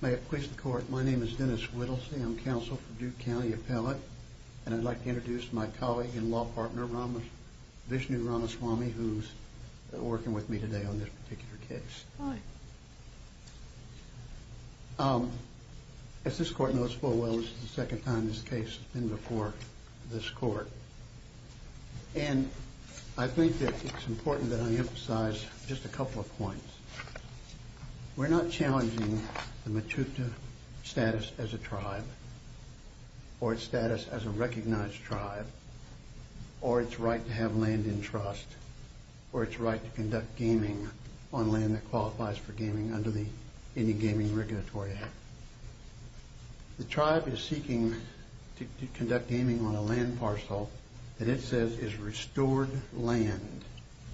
May it please the court, my name is Dennis Whittlesey, I'm counsel for Duke County Appellate and I'd like to introduce my colleague and law partner, Vishnu Ramaswamy, who's working with me today on this particular case. As this court knows full well, this is the second time this case has been before this court and I think that it's important that I emphasize just a couple of points. We're not challenging the Matuta status as a tribe or its status as a recognized tribe or its right to have land in trust or its right to conduct gaming on land that qualifies for gaming under the Indian Gaming Regulatory Act. The tribe is seeking to conduct gaming on a land parcel that it says is restored land,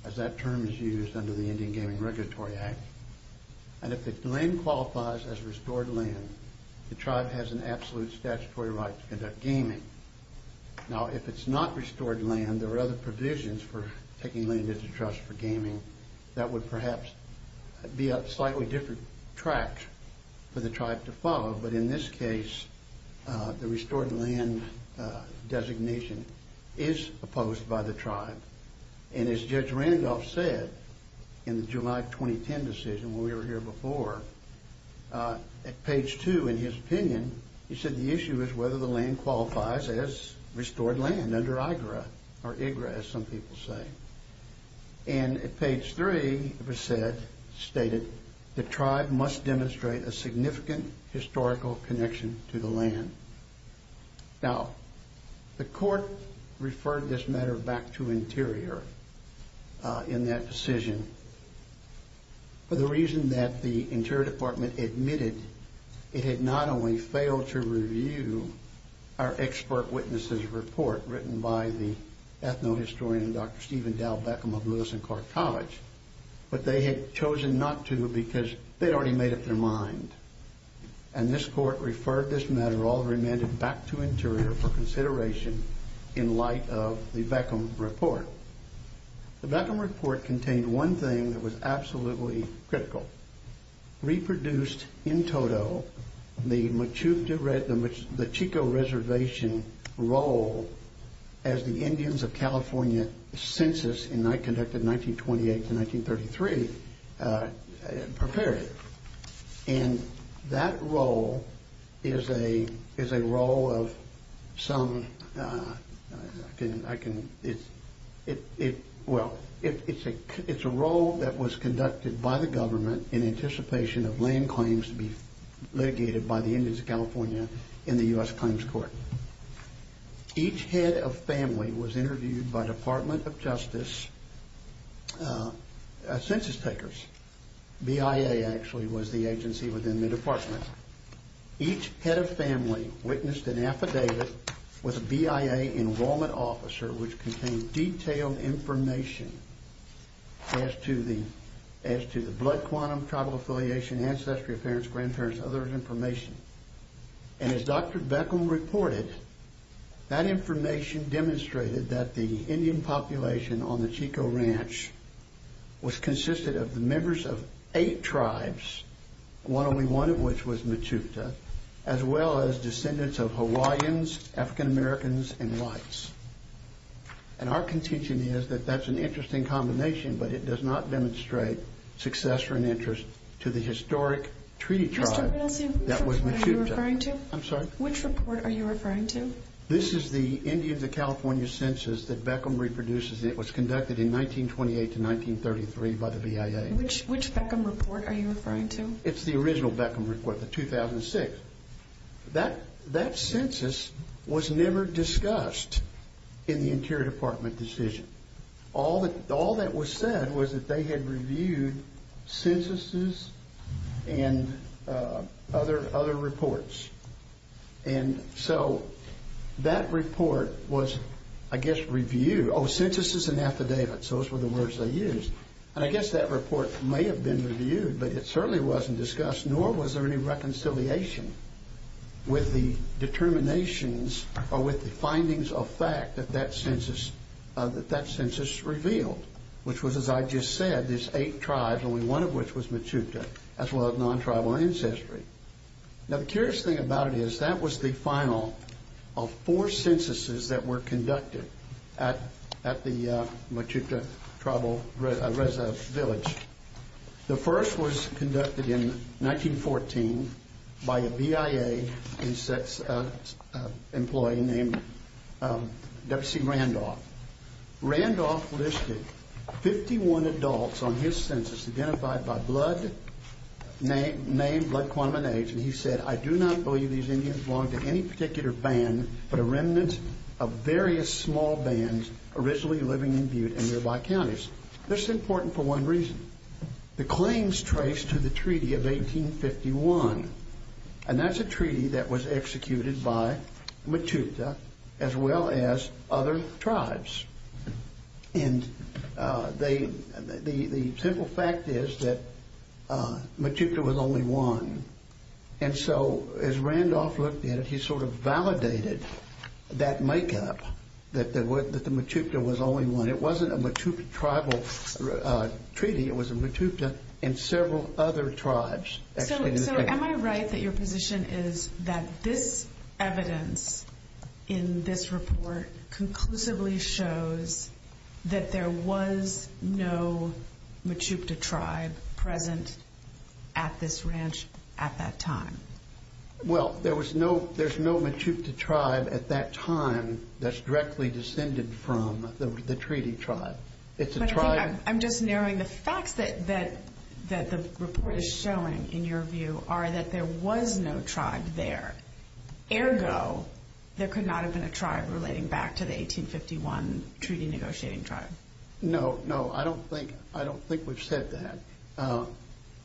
as that term is used under the Indian Gaming Regulatory Act, and if the land qualifies as restored land, the tribe has an absolute statutory right to conduct gaming. Now if it's not restored land, there are other provisions for taking land into trust for gaming that would perhaps be up slightly different tracks for the tribe to follow, but in this case, the restored land designation is opposed by the tribe and as Judge Randolph said in the July 2010 decision when we were here before, at page two in his opinion, he said the issue is whether the land qualifies as restored land under IGRA, or IGRA as some people say, and at page three it was stated the tribe must demonstrate a significant historical connection to the land. Now the court referred this matter back to Interior in that decision for the reason that the Interior Department admitted it had not only failed to review our expert witnesses report written by the ethno-historian Dr. Stephen Dow Beckham of Lewis and Clark College, but they had chosen not to because they'd already made up their mind, and this court referred this matter all remanded back to Interior for consideration in light of the Beckham report. The Beckham report contained one thing that was absolutely critical, reproduced in total the Chico Reservation role as the Indians of California census conducted 1928-1933 prepared, and that role is a role that was conducted by the government in anticipation of land claims to be litigated by the Indians of California in the U.S. Claims Court. Each head of family was interviewed by Department of Justice census takers, BIA actually was the agency within the department. Each head of family witnessed an affidavit with a BIA enrollment officer which contained detailed information as to the blood quantum, tribal affiliation, ancestry of parents, grandparents, other information, and as Dr. Beckham reported, that information demonstrated that the Indian population on the Chico Ranch was consisted of the members of eight tribes, one of which was Mechoota, as well as descendants of Hawaiians, African-Americans, and whites, and our contention is that that's an interesting combination, but it does not demonstrate success or an independent tribe. That was Mechoota. I'm sorry? Which report are you referring to? This is the Indians of California census that Beckham reproduces. It was conducted in 1928-1933 by the BIA. Which Beckham report are you referring to? It's the original Beckham report, the 2006. That census was never discussed in the Interior Department decision. All that was said was that they had reviewed censuses and other reports. And so that report was, I guess, reviewed. Oh, censuses and affidavits, those were the words they used. And I guess that report may have been reviewed, but it certainly wasn't discussed, nor was there any reconciliation with the determinations or with the findings of fact that that census, that that census revealed, which was, as I just said, there's eight tribes, only one of which was Mechoota, as well as non-tribal ancestry. Now, the curious thing about it is that was the final of four censuses that were conducted at the Mechoota tribal village. The first was conducted in 1914 by a BIA employee named W.C. Randolph. Randolph listed 51 adults on his census identified by blood, name, blood quantum and age, and he said, I do not believe these Indians belong to any particular band, but a remnant of various small bands originally living in Butte and nearby counties. This is important for one reason, the claims traced to the Treaty of 1851, and that's a treaty that was executed by Mechoota, as well as other tribes. And the simple fact is that Mechoota was only one. And so as Randolph looked at it, he sort of validated that makeup, that the Mechoota was only one. It wasn't a Mechoota tribal treaty. It was a Mechoota and several other tribes. So am I right that your position is that this evidence in this report conclusively shows that there was no Mechoota tribe present at this ranch at that time? Well, there was no, there's no Mechoota tribe at that time that's directly descended from the treaty tribe. It's a tribe. I'm just narrowing the facts that the report is showing, in your view, are that there was no tribe there. Ergo, there could not have been a tribe relating back to the 1851 treaty negotiating tribe. No, no, I don't think, I don't think we've said that.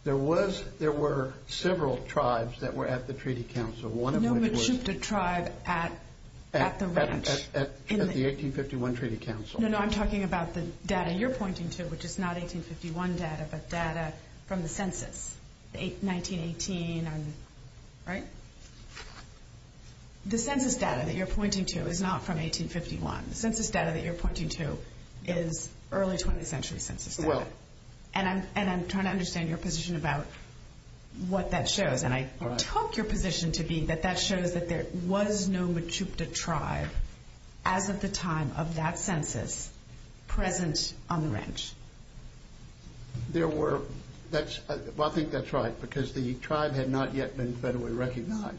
There was, there were several tribes that were at the treaty council, one of which was- No Mechoota tribe at the ranch. At the 1851 treaty council. No, no, I'm talking about the data you're pointing to, which is not 1851 data, but data from the census, 1918 and, right? The census data that you're pointing to is not from 1851. The census data that you're pointing to is early 20th century census data. And I'm trying to understand your position about what that shows, and I took your position to be that that shows that there was no Mechoota tribe, as of the time of that census, present on the ranch. There were, that's, I think that's right, because the tribe had not yet been federally recognized.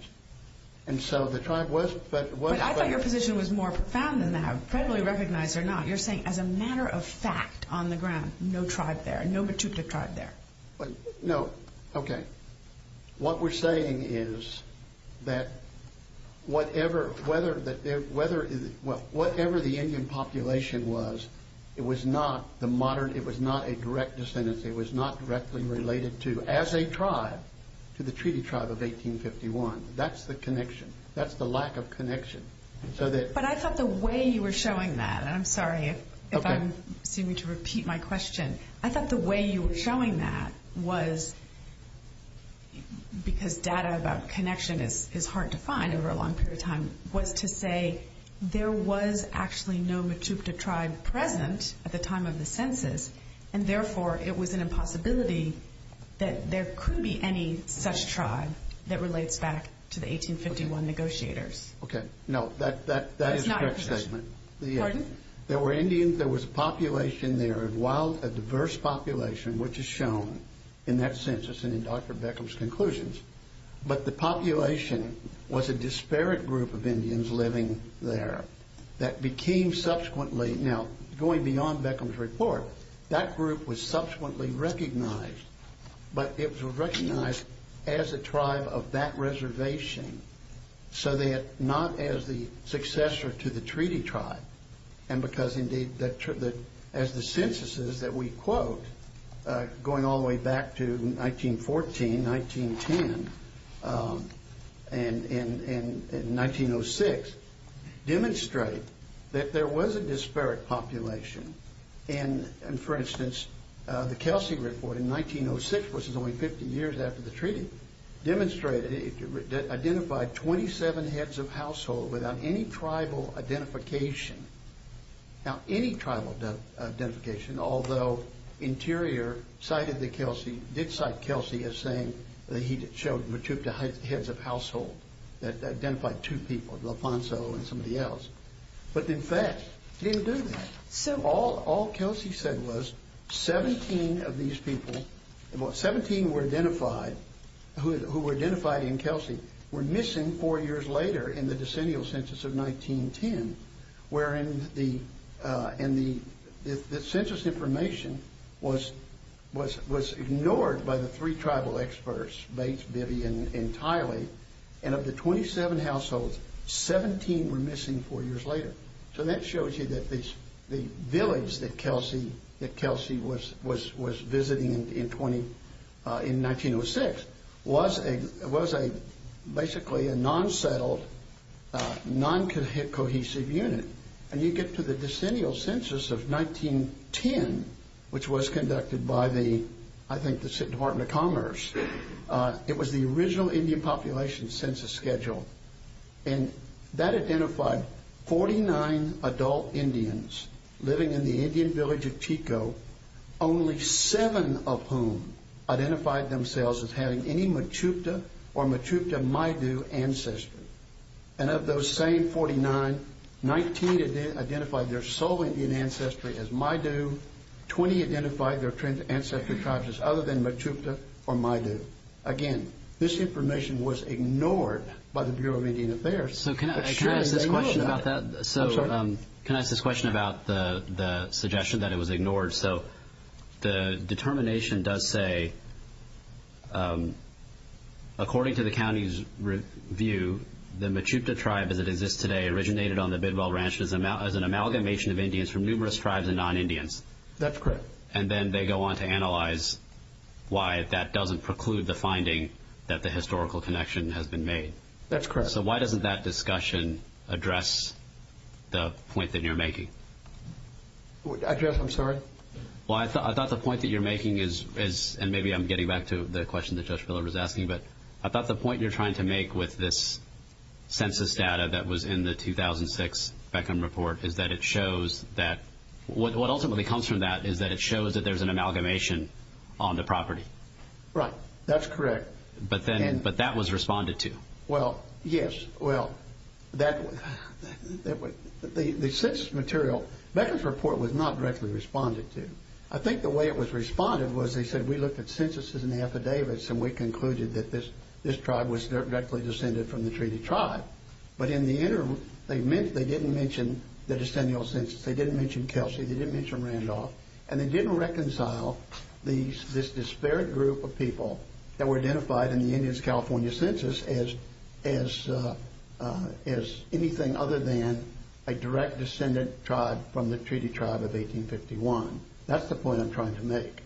And so the tribe was- But I thought your position was more profound than that, federally recognized or not. You're saying as a matter of fact, on the ground, no tribe there, no Mechoota tribe there. No. Okay. What we're saying is that whatever, whether, whatever the Indian population was, it was not the modern, it was not a direct descendant, it was not directly related to, as a tribe, to the treaty tribe of 1851. That's the connection. That's the lack of connection. But I thought the way you were showing that, and I'm sorry if I'm seeming to repeat my question. I thought the way you were showing that was, because data about connection is hard to find over a long period of time, was to say there was actually no Mechoota tribe present at the time of the census, and therefore, it was an impossibility that there could be any such tribe that relates back to the 1851 negotiators. Okay. No. That is a correct statement. Pardon? There were Indians, there was a population there, a wild, a diverse population, which is shown in that census and in Dr. Beckham's conclusions, but the population was a disparate group of Indians living there that became subsequently, now going beyond Beckham's report, that group was subsequently recognized, but it was recognized as a tribe of that reservation so that not as the successor to the treaty tribe, and because indeed, as the censuses that we quote, going all the way back to 1914, 1910, and 1906, demonstrate that there was a disparate population, and for instance, the Kelsey report in 1906, which is only 50 years after the treaty, demonstrated, it identified 27 heads of household without any tribal identification, now any tribal identification, although Interior cited the Kelsey, did cite Kelsey as saying that he showed Mechoota heads of household that identified two people, Loponzo and somebody else, but in fact, didn't do that. So all Kelsey said was 17 of these people, 17 were identified, who were identified in Kelsey were missing four years later in the decennial census of 1910, wherein the census information was ignored by the three tribal experts, Bates, Bibby, and Tiley, and of the village that Kelsey was visiting in 1906, was a basically a non-settled, non-cohesive unit, and you get to the decennial census of 1910, which was conducted by the, I think the Department of Commerce, it was the original Indian population census schedule, and that village of Chico, only seven of whom identified themselves as having any Mechoota or Mechoota-Maidu ancestry, and of those same 49, 19 identified their sole Indian ancestry as Maidu, 20 identified their ancestral tribes as other than Mechoota or Maidu. Again, this information was ignored by the Bureau of Indian Affairs. So can I ask this question about that? I'm sorry. Can I ask this question about the suggestion that it was ignored? So the determination does say, according to the county's review, the Mechoota tribe as it exists today originated on the Bidwell Ranch as an amalgamation of Indians from numerous tribes and non-Indians. That's correct. And then they go on to analyze why that doesn't preclude the finding that the historical connection has been made. That's correct. So why doesn't that discussion address the point that you're making? I'm sorry? Well, I thought the point that you're making is, and maybe I'm getting back to the question that Judge Biller was asking, but I thought the point you're trying to make with this census data that was in the 2006 Beckham Report is that it shows that, what ultimately comes from that is that it shows that there's an amalgamation on the property. Right. That's correct. But that was responded to. Well, yes. Well, the census material, Beckham's report was not directly responded to. I think the way it was responded was they said, we looked at censuses and affidavits and we concluded that this tribe was directly descended from the treaty tribe. But in the end, they didn't mention the decennial census. They didn't mention Kelsey. They didn't mention Randolph. And they didn't reconcile this disparate group of people that were identified in the Indians in the California census as anything other than a direct descendant tribe from the treaty tribe of 1851. That's the point I'm trying to make.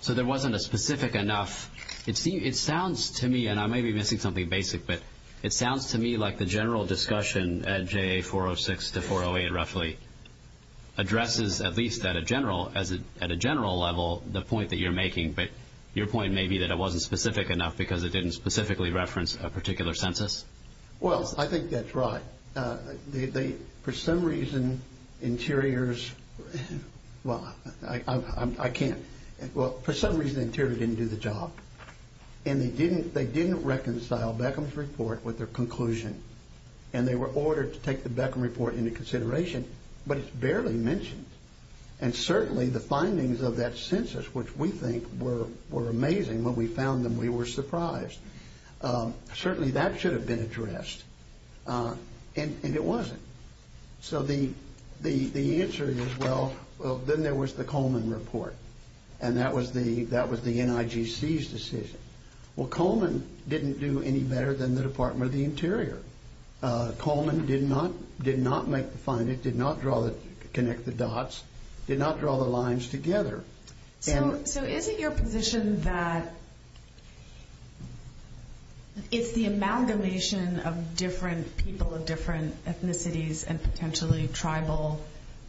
So there wasn't a specific enough. It sounds to me, and I may be missing something basic, but it sounds to me like the general discussion at JA 406 to 408 roughly addresses, at least at a general level, the point that you're making. But your point may be that it wasn't specific enough because it didn't specifically reference a particular census. Well, I think that's right. For some reason, interiors, well, I can't. Well, for some reason, the interior didn't do the job. And they didn't reconcile Beckham's report with their conclusion. And they were ordered to take the Beckham report into consideration. But it's barely mentioned. And certainly the findings of that census, which we think were amazing, when we found them, we were surprised. Certainly that should have been addressed. And it wasn't. So the answer is, well, then there was the Coleman report. And that was the NIGC's decision. Well, Coleman didn't do any better than the Department of the Interior. Coleman did not make the finding, did not connect the dots, did not draw the lines together. So is it your position that it's the amalgamation of different people of different ethnicities and potentially tribal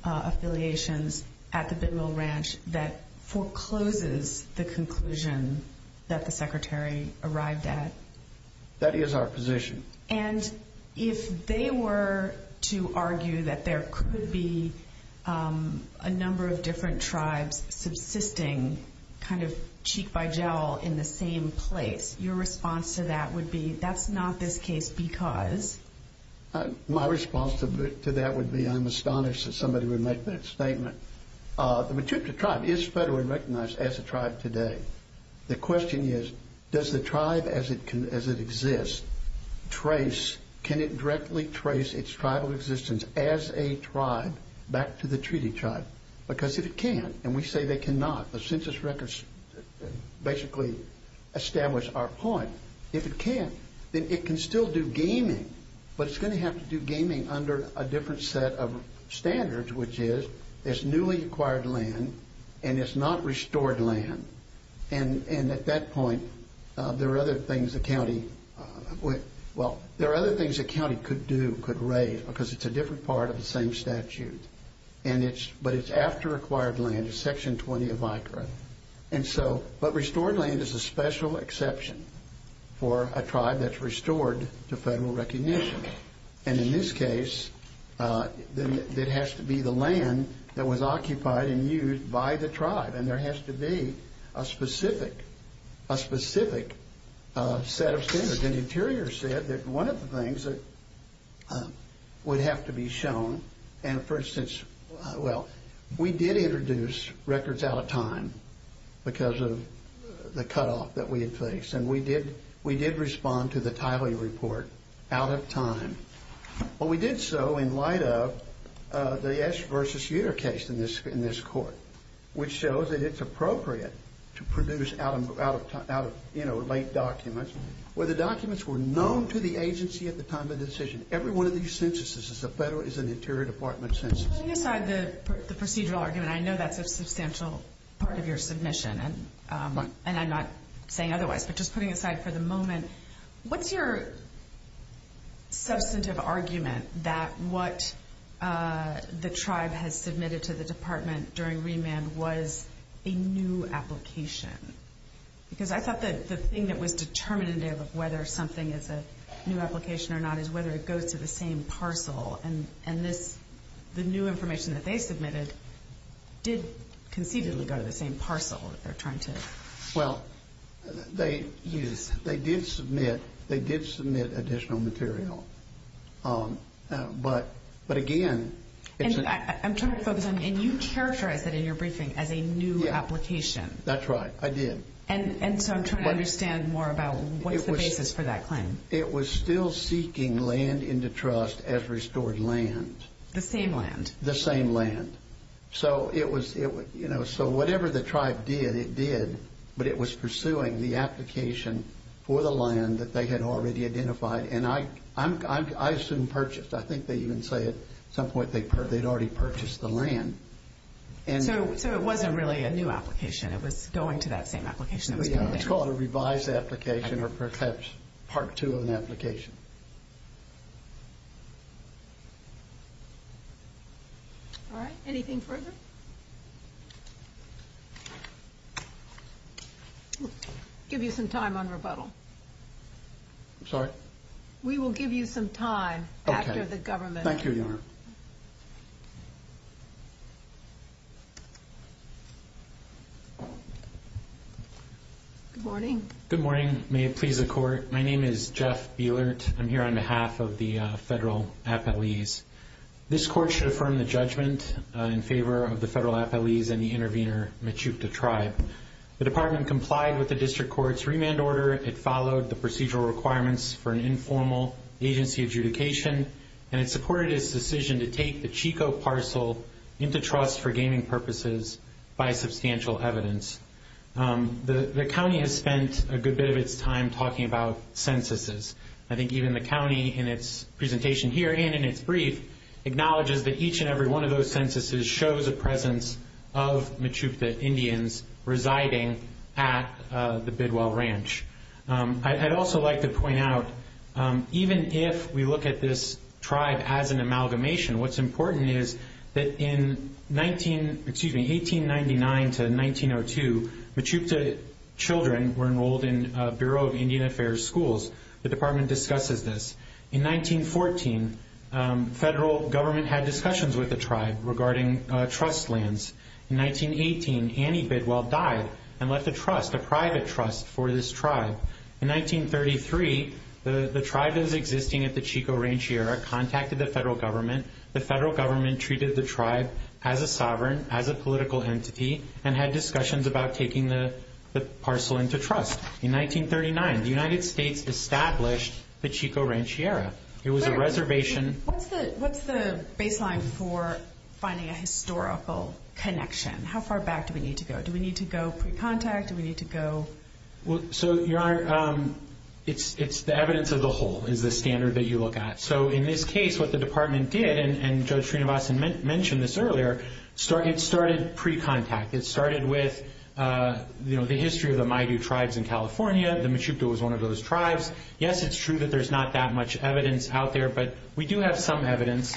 affiliations at the Bidwell Ranch that forecloses the conclusion that the Secretary arrived at? That is our position. And if they were to argue that there could be a number of different tribes subsisting kind of cheek by jowl in the same place, your response to that would be, that's not this case because? My response to that would be, I'm astonished that somebody would make that statement. The Matutka Tribe is federally recognized as a tribe today. The question is, does the tribe as it exists trace? Can it directly trace its tribal existence as a tribe back to the treaty tribe? Because if it can't, and we say they cannot, the census records basically establish our point. If it can't, then it can still do gaming. But it's going to have to do gaming under a different set of standards, which is it's newly acquired land and it's not restored land. And at that point, there are other things the county could do, could raise, because it's a different part of the same statute. But it's after acquired land, Section 20 of ICRA. But restored land is a special exception for a tribe that's restored to federal recognition. And in this case, it has to be the land that was occupied and used by the tribe. And there has to be a specific set of standards. And Interior said that one of the things that would have to be shown, and for instance, well, we did introduce records out of time because of the cutoff that we had faced. And we did respond to the Tiley report out of time. Well, we did so in light of the Esch v. Uter case in this court, which shows that it's appropriate to produce out of late documents where the documents were known to the agency at the time of the decision. Every one of these censuses is an Interior Department census. Putting aside the procedural argument, I know that's a substantial part of your submission. And I'm not saying otherwise. But just putting aside for the moment, what's your substantive argument that what the tribe has submitted to the Department during remand was a new application? Because I thought that the thing that was determinative of whether something is a new application or not is whether it goes to the same parcel. And the new information that they submitted did concededly go to the same parcel that they're trying to use. They did submit additional material. But again, it's a new application. And you characterized that in your briefing as a new application. That's right. I did. And so I'm trying to understand more about what's the basis for that claim. It was still seeking land into trust as restored land. The same land? The same land. So whatever the tribe did, it did. But it was pursuing the application for the land that they had already identified. And I assume purchased. I think they even say at some point they'd already purchased the land. So it wasn't really a new application. It was going to that same application. It's called a revised application or perhaps part two of an application. All right. Anything further? We'll give you some time on rebuttal. I'm sorry? We will give you some time after the government. Thank you, Your Honor. Good morning. Good morning. May it please the court. My name is Jeff Bielert. I'm here on behalf of the federal appellees. This court should affirm the judgment in favor of the federal appellees and the intervener, Michupta Tribe. The department complied with the district court's remand order. It followed the procedural requirements for an informal agency adjudication. And it supported its decision to take the Chico parcel into trust for gaming purposes by substantial evidence. The county has spent a good bit of its time talking about censuses. I think even the county in its presentation here and in its brief acknowledges that each and every one of those censuses shows a presence of Michupta Indians residing at the Bidwell Ranch. I'd also like to point out, even if we look at this tribe as an amalgamation, what's important is that in 1899 to 1902, Michupta children were enrolled in Bureau of Indian Affairs schools. The department discusses this. In 1914, federal government had discussions with the tribe regarding trust lands. In 1918, Annie Bidwell died and left a trust, a private trust, for this tribe. In 1933, the tribe that was existing at the Chico Ranchiera contacted the federal government. The federal government treated the tribe as a sovereign, as a political entity, and had discussions about taking the parcel into trust. In 1939, the United States established the Chico Ranchiera. What's the baseline for finding a historical connection? How far back do we need to go? Do we need to go pre-contact? It's the evidence of the whole is the standard that you look at. In this case, what the department did, and Judge Srinivasan mentioned this earlier, it started pre-contact. It started with the history of the Maidu tribes in California. The Michupta was one of those tribes. Yes, it's true that there's not that much evidence out there, but we do have some evidence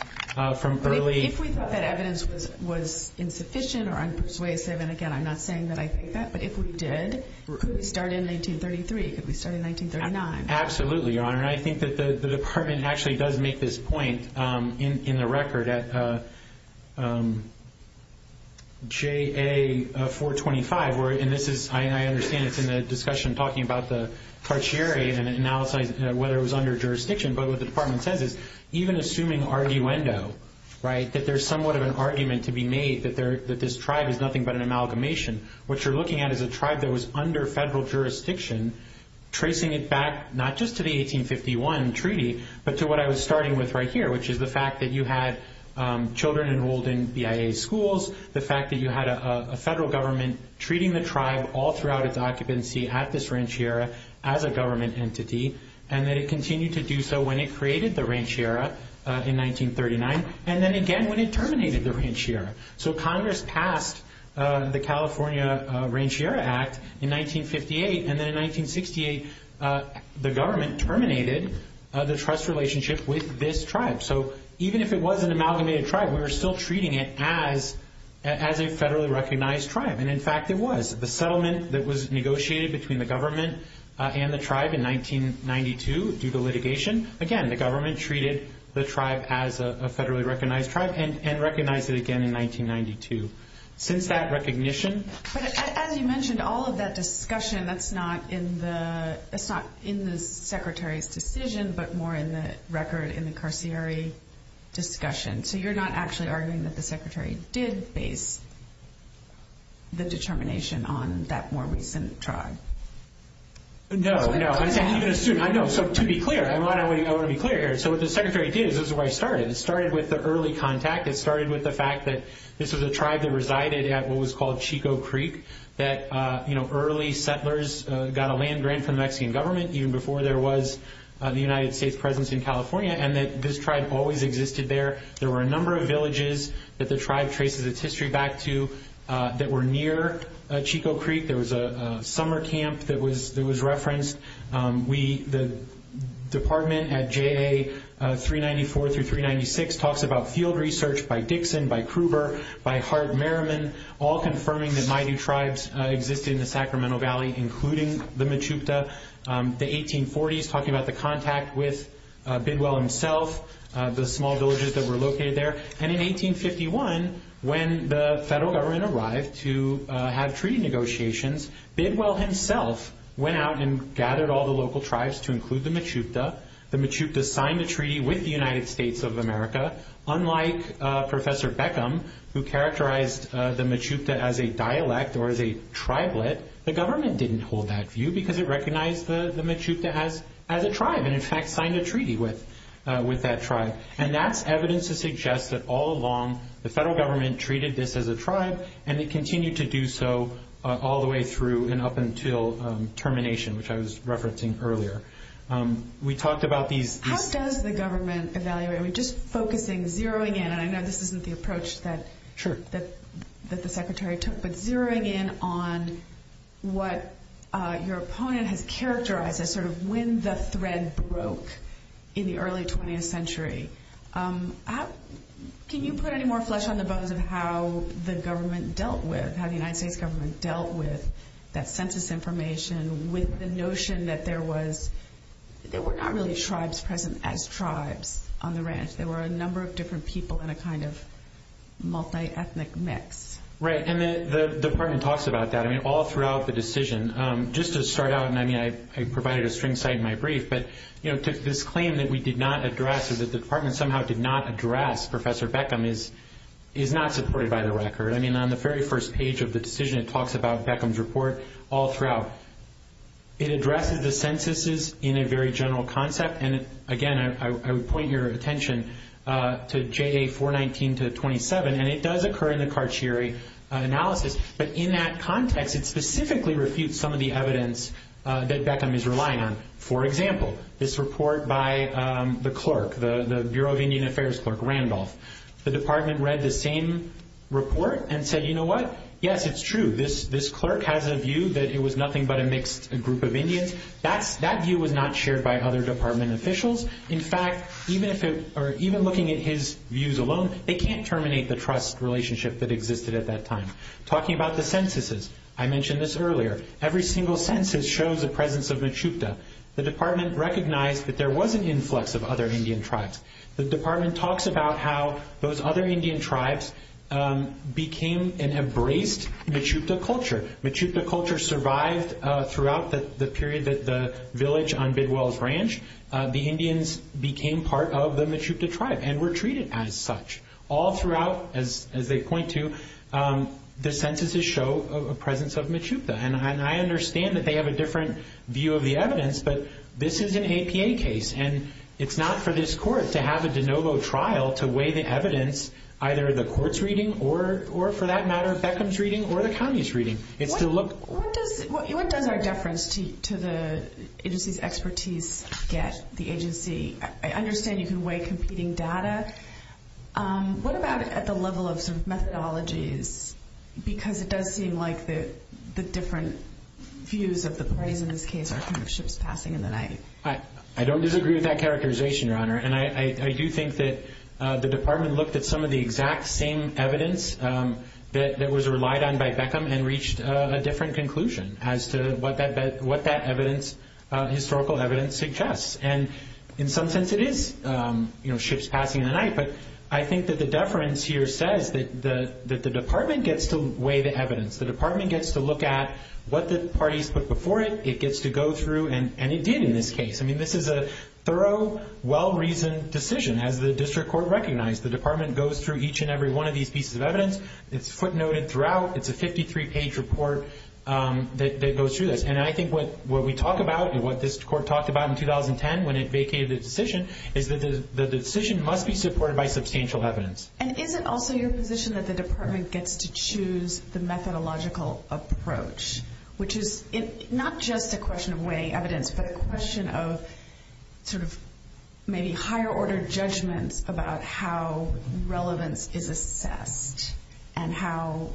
from early- If we thought that evidence was insufficient or unpersuasive, and again, I'm not saying that I think that, but if we did, could we start in 1933? Could we start in 1939? Absolutely, Your Honor. I think that the department actually does make this point in the record at J.A. 425. I understand it's in the discussion talking about the Tarchieri, and it analyses whether it was under jurisdiction, but what the department says is even assuming arguendo, that there's somewhat of an argument to be made that this tribe is nothing but an amalgamation. What you're looking at is a tribe that was under federal jurisdiction, tracing it back not just to the 1851 treaty, but to what I was starting with right here, which is the fact that you had children enrolled in BIA schools, the fact that you had a federal government treating the tribe all throughout its occupancy at this ranchiera as a government entity, and that it continued to do so when it created the ranchiera in 1939, and then again when it terminated the ranchiera. So Congress passed the California Ranchiera Act in 1958, and then in 1968 the government terminated the trust relationship with this tribe. So even if it was an amalgamated tribe, we were still treating it as a federally recognized tribe, and in fact it was. The settlement that was negotiated between the government and the tribe in 1992 due to litigation, again, the government treated the tribe as a federally recognized tribe and recognized it again in 1992. Since that recognition... But as you mentioned, all of that discussion, that's not in the secretary's decision, but more in the record in the carcieri discussion. So you're not actually arguing that the secretary did base the determination on that more recent tribe? No, no. I know, so to be clear, I want to be clear here. So what the secretary did is this is where I started. It started with the early contact. It started with the fact that this was a tribe that resided at what was called Chico Creek, that early settlers got a land grant from the Mexican government even before there was the United States' presence in California, and that this tribe always existed there. There were a number of villages that the tribe traces its history back to that were near Chico Creek. There was a summer camp that was referenced. The department at JA 394 through 396 talks about field research by Dixon, by Kruber, by Hart Merriman, all confirming that Maidu tribes existed in the Sacramento Valley, including the Mechoopda. The 1840s, talking about the contact with Bidwell himself, the small villages that were located there. And in 1851, when the federal government arrived to have treaty negotiations, Bidwell himself went out and gathered all the local tribes to include the Mechoopda. The Mechoopda signed a treaty with the United States of America. Unlike Professor Beckham, who characterized the Mechoopda as a dialect or as a tribelet, the government didn't hold that view because it recognized the Mechoopda as a tribe and, in fact, signed a treaty with that tribe. And that's evidence to suggest that all along the federal government treated this as a tribe and it continued to do so all the way through and up until termination, which I was referencing earlier. We talked about these. How does the government evaluate? Just focusing, zeroing in, and I know this isn't the approach that the secretary took, but zeroing in on what your opponent has characterized as sort of when the thread broke in the early 20th century. Can you put any more flesh on the bones of how the government dealt with, how the United States government dealt with that census information, with the notion that there were not really tribes present as tribes on the ranch. There were a number of different people in a kind of multi-ethnic mix. Right, and the department talks about that all throughout the decision. Just to start out, and I provided a string site in my brief, but this claim that we did not address or that the department somehow did not address Professor Beckham is not supported by the record. I mean, on the very first page of the decision, it talks about Beckham's report all throughout. It addresses the censuses in a very general concept, and again, I would point your attention to JA 419 to 27, and it does occur in the Carchieri analysis, but in that context, it specifically refutes some of the evidence that Beckham is relying on. For example, this report by the clerk, the Bureau of Indian Affairs clerk, Randolph. The department read the same report and said, you know what, yes, it's true. This clerk has a view that it was nothing but a mixed group of Indians. That view was not shared by other department officials. In fact, even looking at his views alone, they can't terminate the trust relationship that existed at that time. Talking about the censuses, I mentioned this earlier. Every single census shows the presence of Mechupta. The department recognized that there was an influx of other Indian tribes. The department talks about how those other Indian tribes became and embraced Mechupta culture. Mechupta culture survived throughout the period that the village on Bidwell's Ranch, the Indians became part of the Mechupta tribe and were treated as such. All throughout, as they point to, the censuses show a presence of Mechupta, and I understand that they have a different view of the evidence, but this is an APA case, and it's not for this court to have a de novo trial to weigh the evidence, either the court's reading or, for that matter, Beckham's reading or the county's reading. What does our deference to the agency's expertise get the agency? I understand you can weigh competing data. What about at the level of some methodologies, because it does seem like the different views of the parties in this case are ships passing in the night. I don't disagree with that characterization, Your Honor, and I do think that the department looked at some of the exact same evidence that was relied on by Beckham and reached a different conclusion as to what that historical evidence suggests, and in some sense it is ships passing in the night, but I think that the deference here says that the department gets to weigh the evidence. The department gets to look at what the parties put before it. It gets to go through, and it did in this case. I mean, this is a thorough, well-reasoned decision, as the district court recognized. The department goes through each and every one of these pieces of evidence. It's footnoted throughout. It's a 53-page report that goes through this, and I think what we talk about and what this court talked about in 2010 when it vacated the decision is that the decision must be supported by substantial evidence. And is it also your position that the department gets to choose the methodological approach, which is not just a question of weighing evidence, but a question of sort of maybe higher-order judgments about how relevance is assessed and how...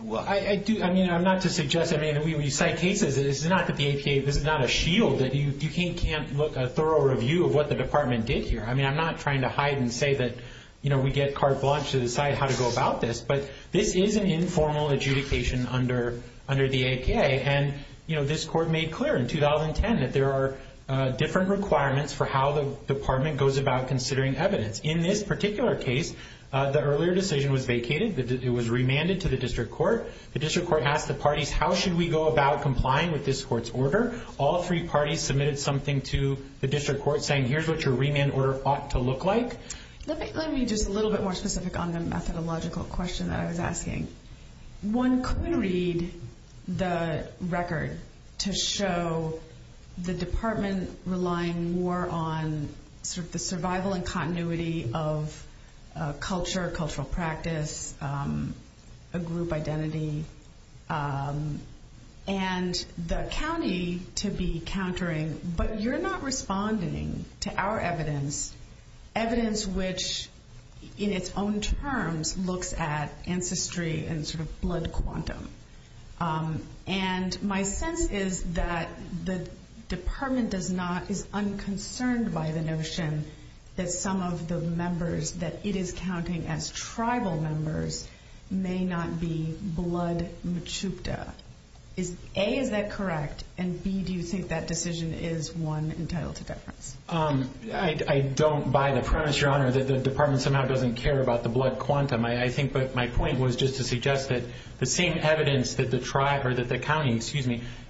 Well, I do... I mean, I'm not to suggest... I mean, we cite cases. This is not the APA. This is not a shield that you can't look at a thorough review of what the department did here. I mean, I'm not trying to hide and say that, you know, we get carte blanche to decide how to go about this, but this is an informal adjudication under the APA. And, you know, this court made clear in 2010 that there are different requirements for how the department goes about considering evidence. In this particular case, the earlier decision was vacated. It was remanded to the district court. The district court asked the parties, how should we go about complying with this court's order? All three parties submitted something to the district court saying, here's what your remand order ought to look like. Let me just a little bit more specific on the methodological question that I was asking. One could read the record to show the department relying more on sort of the survival and continuity of culture, cultural practice, a group identity, and the county to be countering. But you're not responding to our evidence, evidence which, in its own terms, looks at ancestry and sort of blood quantum. And my sense is that the department is unconcerned by the notion that some of the members that it is counting as tribal members may not be blood Mechoopda. A, is that correct? And B, do you think that decision is one entitled to deference? I don't, by the premise, Your Honor, that the department somehow doesn't care about the blood quantum. I think my point was just to suggest that the same evidence that the county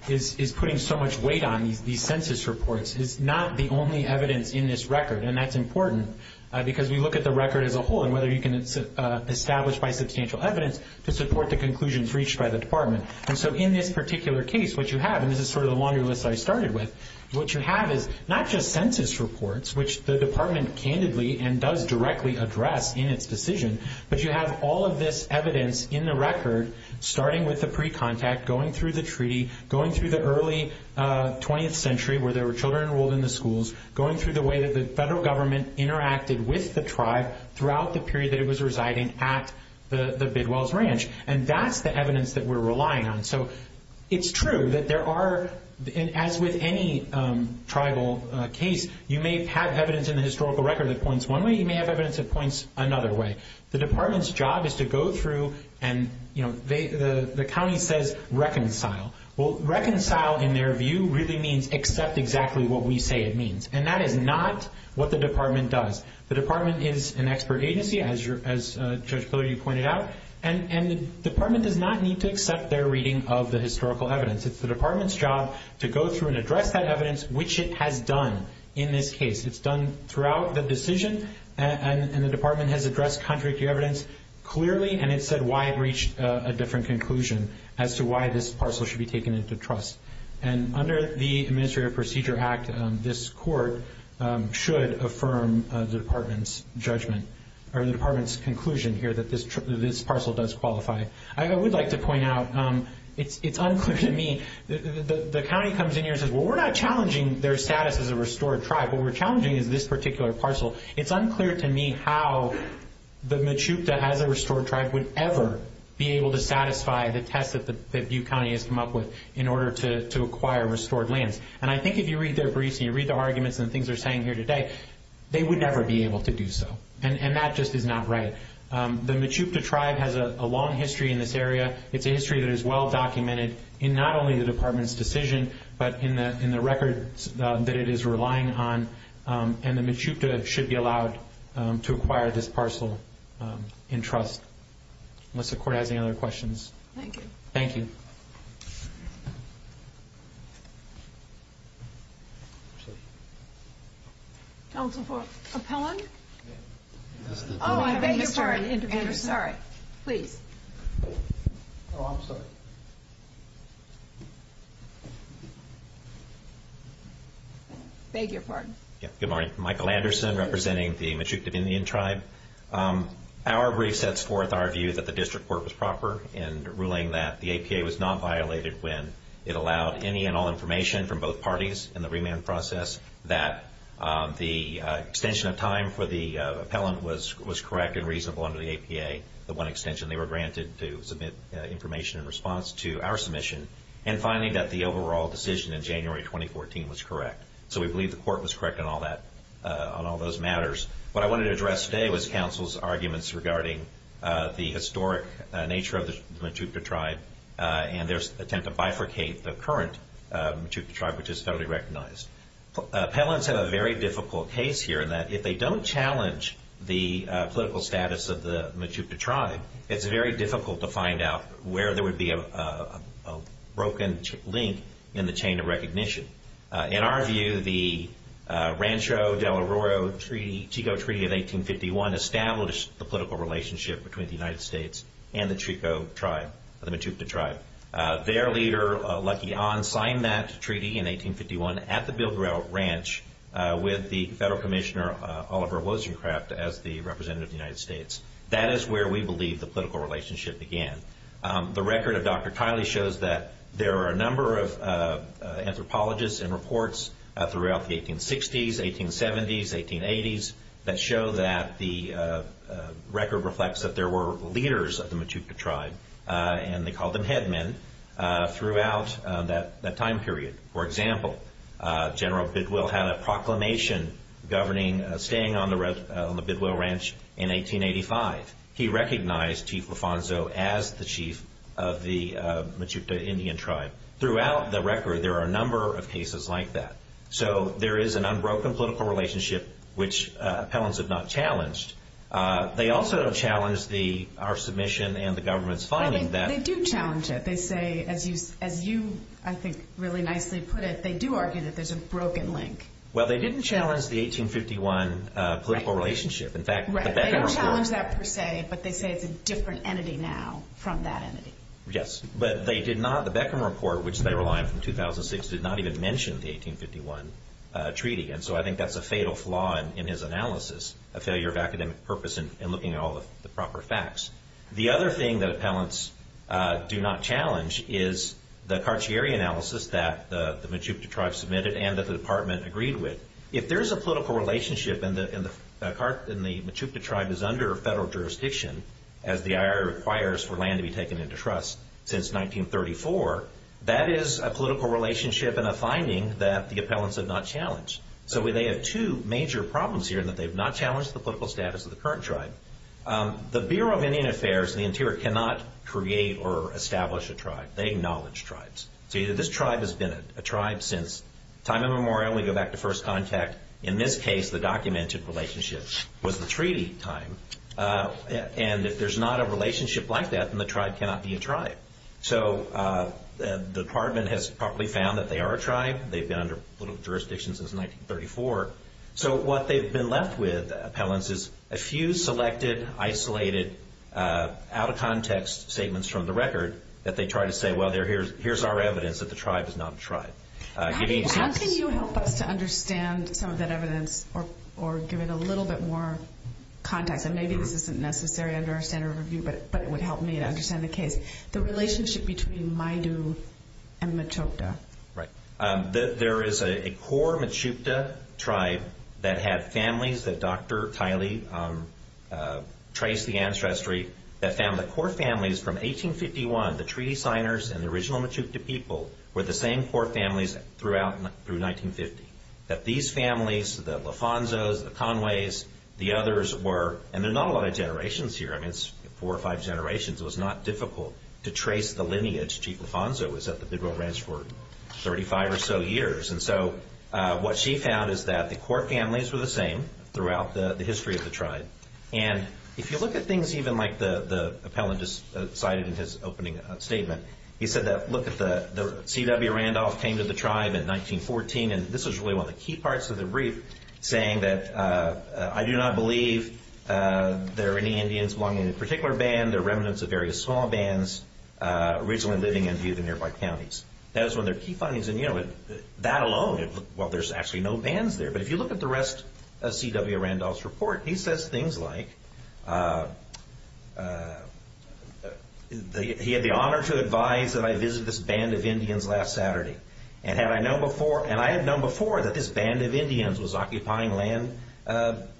is putting so much weight on, these census reports, is not the only evidence in this record. And that's important because we look at the record as a whole and whether you can establish by substantial evidence to support the conclusions reached by the department. And so in this particular case, what you have, and this is sort of the longer list I started with, what you have is not just census reports, which the department candidly and does directly address in its decision, but you have all of this evidence in the record, starting with the pre-contact, going through the treaty, going through the early 20th century where there were children enrolled in the schools, going through the way that the federal government interacted with the tribe throughout the period that it was residing at the Bidwell's Ranch. And that's the evidence that we're relying on. So it's true that there are, as with any tribal case, you may have evidence in the historical record that points one way. You may have evidence that points another way. The department's job is to go through and, you know, the county says reconcile. Well, reconcile, in their view, really means accept exactly what we say it means. And that is not what the department does. The department is an expert agency, as Judge Pillory pointed out. And the department does not need to accept their reading of the historical evidence. It's the department's job to go through and address that evidence, which it has done in this case. It's done throughout the decision, and the department has addressed contradictory evidence clearly, and it said why it reached a different conclusion as to why this parcel should be taken into trust. And under the Administrative Procedure Act, this court should affirm the department's judgment or the department's conclusion here that this parcel does qualify. I would like to point out, it's unclear to me, the county comes in here and says, well, we're not challenging their status as a restored tribe. What we're challenging is this particular parcel. It's unclear to me how the Mechoopda as a restored tribe would ever be able to satisfy the test that Butte County has come up with in order to acquire restored lands. And I think if you read their briefs and you read their arguments and the things they're saying here today, they would never be able to do so. And that just is not right. The Mechoopda tribe has a long history in this area. It's a history that is well documented in not only the department's decision, but in the records that it is relying on, and the Mechoopda should be allowed to acquire this parcel in trust. Unless the court has any other questions. Thank you. Thank you. Counsel for appellant? Oh, I beg your pardon. Sorry. Please. Oh, I'm sorry. Beg your pardon. Good morning. Michael Anderson representing the Mechoopda Indian tribe. Our brief sets forth our view that the district court was proper in ruling that the APA was not violated when it allowed any and all information from both parties in the remand process, that the extension of time for the appellant was correct and reasonable under the APA, the one extension they were granted to submit information in response to our submission, and finally that the overall decision in January 2014 was correct. So we believe the court was correct on all those matters. What I wanted to address today was counsel's arguments regarding the historic nature of the Mechoopda tribe and their attempt to bifurcate the current Mechoopda tribe, which is federally recognized. Appellants have a very difficult case here in that if they don't challenge the political status of the Mechoopda tribe, it's very difficult to find out where there would be a broken link in the chain of recognition. In our view, the Rancho del Oro Chico Treaty of 1851 established the political relationship between the United States and the Chico tribe, the Mechoopda tribe. Their leader, Lucky Ahn, signed that treaty in 1851 at the Bilger Elk Ranch with the federal commissioner, Oliver Wozniakraft, as the representative of the United States. That is where we believe the political relationship began. The record of Dr. Kiley shows that there are a number of anthropologists and reports throughout the 1860s, 1870s, 1880s that show that the record reflects that there were leaders of the Mechoopda tribe, and they called them headmen, throughout that time period. For example, General Bidwell had a proclamation governing staying on the Bidwell Ranch in 1885. He recognized Chief Lufanzo as the chief of the Mechoopda Indian tribe. Throughout the record, there are a number of cases like that. So there is an unbroken political relationship, which appellants have not challenged. They also don't challenge our submission and the government's finding that- They do challenge it. They say, as you, I think, really nicely put it, they do argue that there's a broken link. Well, they didn't challenge the 1851 political relationship. In fact, the Beckham Report- They don't challenge that per se, but they say it's a different entity now from that entity. Yes. But they did not- The Beckham Report, which they relied on from 2006, did not even mention the 1851 treaty. So I think that's a fatal flaw in his analysis, a failure of academic purpose in looking at all the proper facts. The other thing that appellants do not challenge is the Carcieri analysis that the Mechoopda tribe submitted and that the department agreed with. If there is a political relationship and the Mechoopda tribe is under federal jurisdiction, as the IRA requires for land to be taken into trust since 1934, that is a political relationship and a finding that the appellants have not challenged. So they have two major problems here in that they have not challenged the political status of the current tribe. The Bureau of Indian Affairs and the Interior cannot create or establish a tribe. They acknowledge tribes. So this tribe has been a tribe since time immemorial. We go back to first contact. In this case, the documented relationship was the treaty time. And if there's not a relationship like that, then the tribe cannot be a tribe. So the department has properly found that they are a tribe. They've been under political jurisdiction since 1934. So what they've been left with, appellants, is a few selected, isolated, out-of-context statements from the record that they try to say, well, here's our evidence that the tribe is not a tribe. How can you help us to understand some of that evidence or give it a little bit more context? And maybe this isn't necessary under our standard of review, but it would help me to understand the case. The relationship between Maidu and Mechoopda. Right. There is a core Mechoopda tribe that had families that Dr. Kiley traced the ancestry, that found the core families from 1851, the treaty signers and the original Mechoopda people, were the same core families throughout through 1950. That these families, the Lofanzos, the Conways, the others were, and there are not a lot of generations here. I mean, it's four or five generations. It was not difficult to trace the lineage. Chief Lofanzo was at the Bidwell Ranch for 35 or so years. And so what she found is that the core families were the same throughout the history of the tribe. And if you look at things even like the appellant just cited in his opening statement, he said that, look, C.W. Randolph came to the tribe in 1914, and this was really one of the key parts of the brief, saying that, I do not believe there are any Indians belonging to any particular band. There are remnants of various small bands originally living in the nearby counties. That was one of their key findings. And, you know, that alone, well, there's actually no bands there. But if you look at the rest of C.W. Randolph's report, he says things like, he had the honor to advise that I visit this band of Indians last Saturday. And I had known before that this band of Indians was occupying land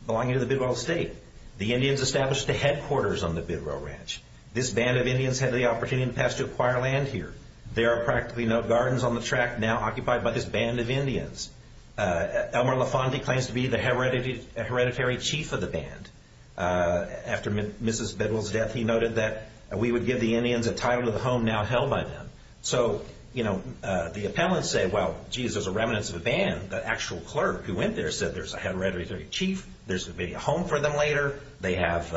belonging to the Bidwell State. The Indians established the headquarters on the Bidwell Ranch. This band of Indians had the opportunity to pass to acquire land here. There are practically no gardens on the tract now occupied by this band of Indians. Elmer LaFonte claims to be the hereditary chief of the band. After Mrs. Bidwell's death, he noted that we would give the Indians a title to the home now held by them. So, you know, the appellants say, well, geez, there's a remnant of a band. The actual clerk who went there said there's a hereditary chief. There's going to be a home for them later. They have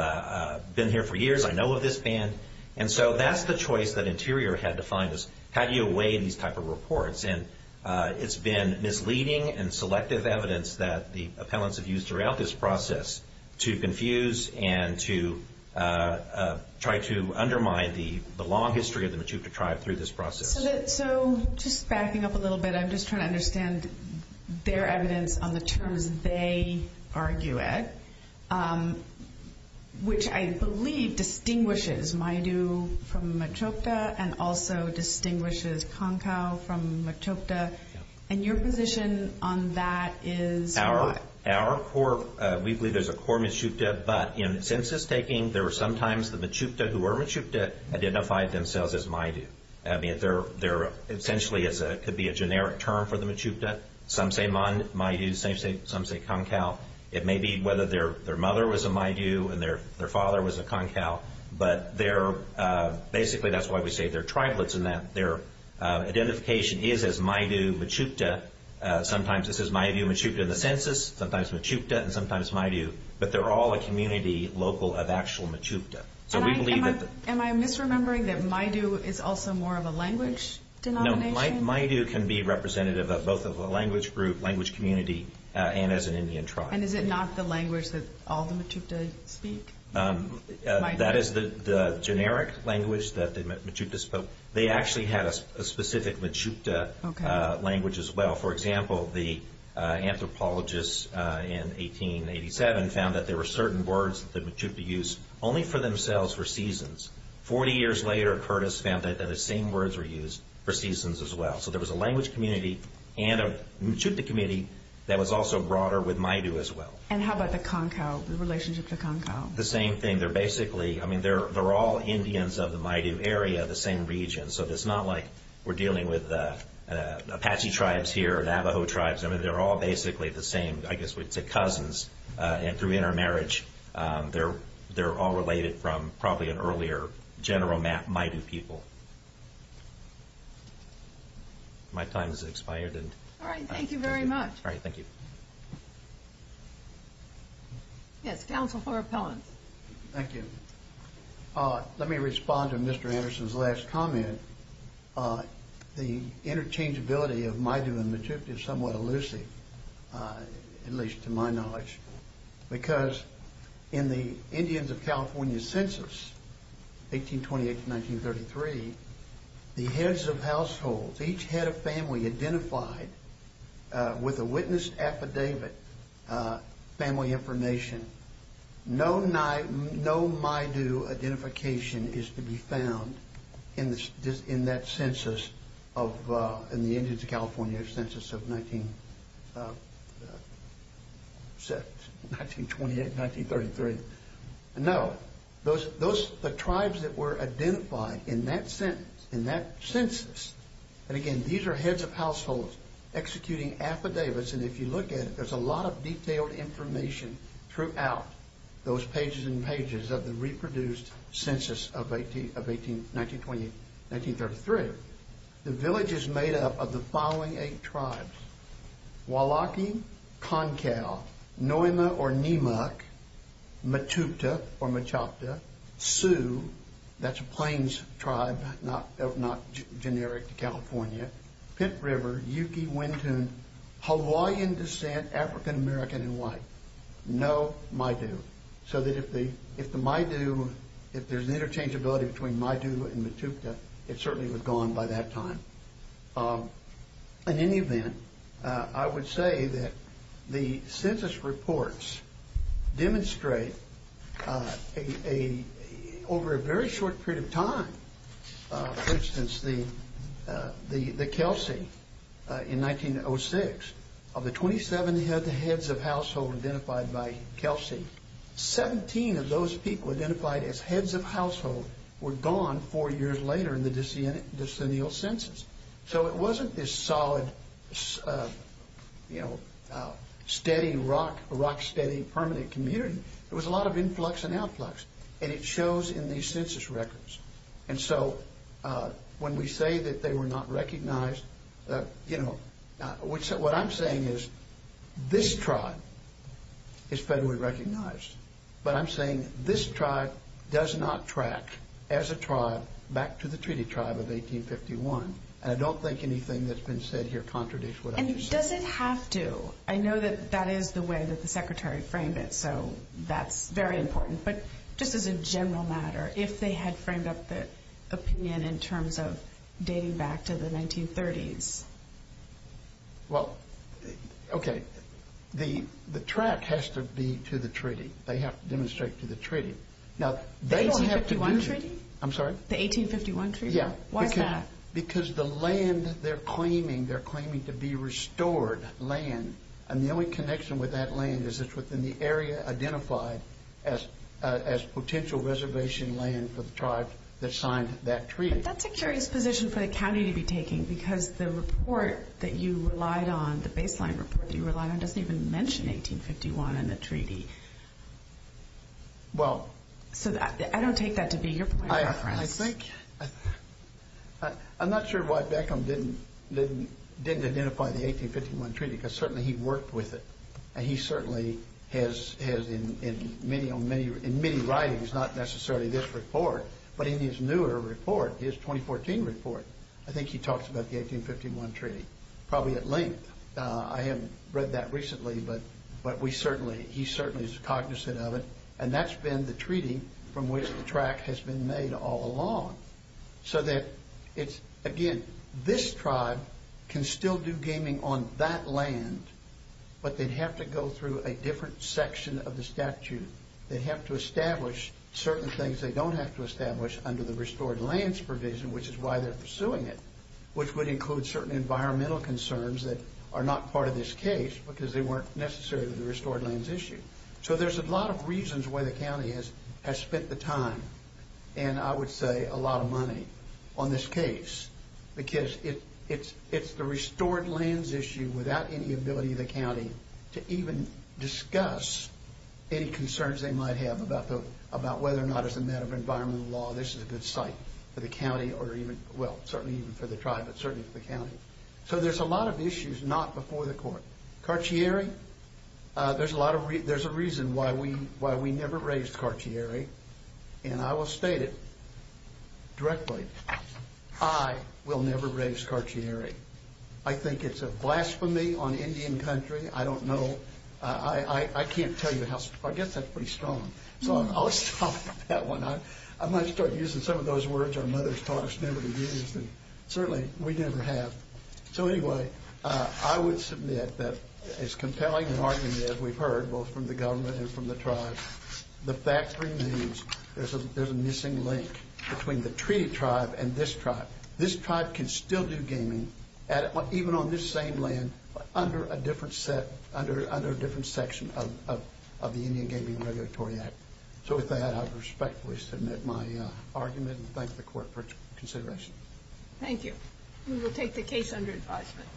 been here for years. I know of this band. And so that's the choice that Interior had to find, is how do you weigh in these type of reports? And it's been misleading and selective evidence that the appellants have used throughout this process to confuse and to try to undermine the long history of the Machu Picchu tribe through this process. So just backing up a little bit, I'm just trying to understand their evidence on the terms they argue at, which I believe distinguishes Maidu from Machu Picchu and also distinguishes Kankau from Machu Picchu. And your position on that is what? Our core, we believe there's a core Machu Picchu. But in census taking, there were sometimes the Machu Picchu who were Machu Picchu identified themselves as Maidu. I mean, they're essentially could be a generic term for the Machu Picchu. Some say Maidu, some say Kankau. It may be whether their mother was a Maidu and their father was a Kankau. But basically that's why we say they're tribelets in that their identification is as Maidu Machu Picchu. Sometimes it says Maidu Machu Picchu in the census, sometimes Machu Picchu and sometimes Maidu. But they're all a community local of actual Machu Picchu. Am I misremembering that Maidu is also more of a language denomination? No, Maidu can be representative of both of a language group, language community, and as an Indian tribe. And is it not the language that all the Machu Picchu speak? That is the generic language that the Machu Picchu spoke. They actually had a specific Machu Picchu language as well. For example, the anthropologists in 1887 found that there were certain words that the Machu Picchu used only for themselves for seasons. Forty years later, Curtis found that the same words were used for seasons as well. So there was a language community and a Machu Picchu community that was also broader with Maidu as well. And how about the Kankau, the relationship to Kankau? The same thing. They're basically, I mean, they're all Indians of the Maidu area, the same region. So it's not like we're dealing with Apache tribes here, Navajo tribes. I mean, they're all basically the same, I guess we'd say cousins through intermarriage. They're all related from probably an earlier general Maidu people. My time has expired. All right, thank you very much. All right, thank you. Yes, counsel for appellants. Thank you. Let me respond to Mr. Anderson's last comment. The interchangeability of Maidu and Machu Picchu is somewhat elusive, at least to my knowledge. Because in the Indians of California census, 1828 to 1933, the heads of households, each head of family identified with a witness affidavit, family information, no Maidu identification is to be found in that census of, in the Indians of California census of 1928, 1933. No. Those, the tribes that were identified in that census, and again, these are heads of households executing affidavits. And if you look at it, there's a lot of detailed information throughout those pages and pages of the reproduced census of 1928, 1933. The village is made up of the following eight tribes. Wailaki, Concal, Noima or Nimuc, Matupta or Machapta, Sioux, that's a plains tribe, not generic to California, Pitt River, Yuki, Wintun, Hawaiian descent, African American and white. No Maidu. So that if the Maidu, if there's interchangeability between Maidu and Matupta, it certainly was gone by that time. In any event, I would say that the census reports demonstrate over a very short period of time, for instance, the Kelsey in 1906, of the 27 heads of household identified by Kelsey, 17 of those people identified as heads of household were gone four years later in the decennial census. So it wasn't this solid, you know, steady rock, rock steady permanent community. It was a lot of influx and outflux. And it shows in these census records. And so when we say that they were not recognized, you know, what I'm saying is this tribe is federally recognized. But I'm saying this tribe does not track as a tribe back to the treaty tribe of 1851. And I don't think anything that's been said here contradicts what I just said. And does it have to? I know that that is the way that the Secretary framed it. So that's very important. But just as a general matter, if they had framed up the opinion in terms of dating back to the 1930s. Well, okay. The track has to be to the treaty. They have to demonstrate to the treaty. The 1851 treaty? I'm sorry? The 1851 treaty? Yeah. Why is that? Because the land they're claiming, they're claiming to be restored land. And the only connection with that land is it's within the area identified as potential reservation land for the tribes that signed that treaty. That's a curious position for the county to be taking. Because the report that you relied on, the baseline report that you relied on, doesn't even mention 1851 in the treaty. Well. So I don't take that to be your point of reference. I'm not sure why Beckham didn't identify the 1851 treaty because certainly he worked with it. And he certainly has in many writings, not necessarily this report, but in his newer report, his 2014 report, I think he talks about the 1851 treaty. Probably at length. I haven't read that recently. But we certainly, he certainly is cognizant of it. And that's been the treaty from which the track has been made all along. So that it's, again, this tribe can still do gaming on that land, but they'd have to go through a different section of the statute. They'd have to establish certain things they don't have to establish under the restored lands provision, which is why they're pursuing it, which would include certain environmental concerns that are not part of this case because they weren't necessary to the restored lands issue. So there's a lot of reasons why the county has spent the time, and I would say a lot of money, on this case. Because it's the restored lands issue without any ability of the county to even discuss any concerns they might have about whether or not, as a matter of environmental law, this is a good site for the county or even, well, certainly even for the tribe, but certainly for the county. So there's a lot of issues not before the court. Carcieri, there's a reason why we never raised Carcieri, and I will state it directly. I will never raise Carcieri. I think it's a blasphemy on Indian country. I don't know. I can't tell you how, I guess that's pretty strong. So I'll stop with that one. I might start using some of those words our mothers taught us never to use, and certainly we never have. So anyway, I would submit that as compelling an argument as we've heard, both from the government and from the tribe, the fact remains there's a missing link between the treaty tribe and this tribe. This tribe can still do gaming, even on this same land, under a different section of the Indian Gaming Regulatory Act. So with that, I respectfully submit my argument and thank the court for its consideration. Thank you. We will take the case under advisement.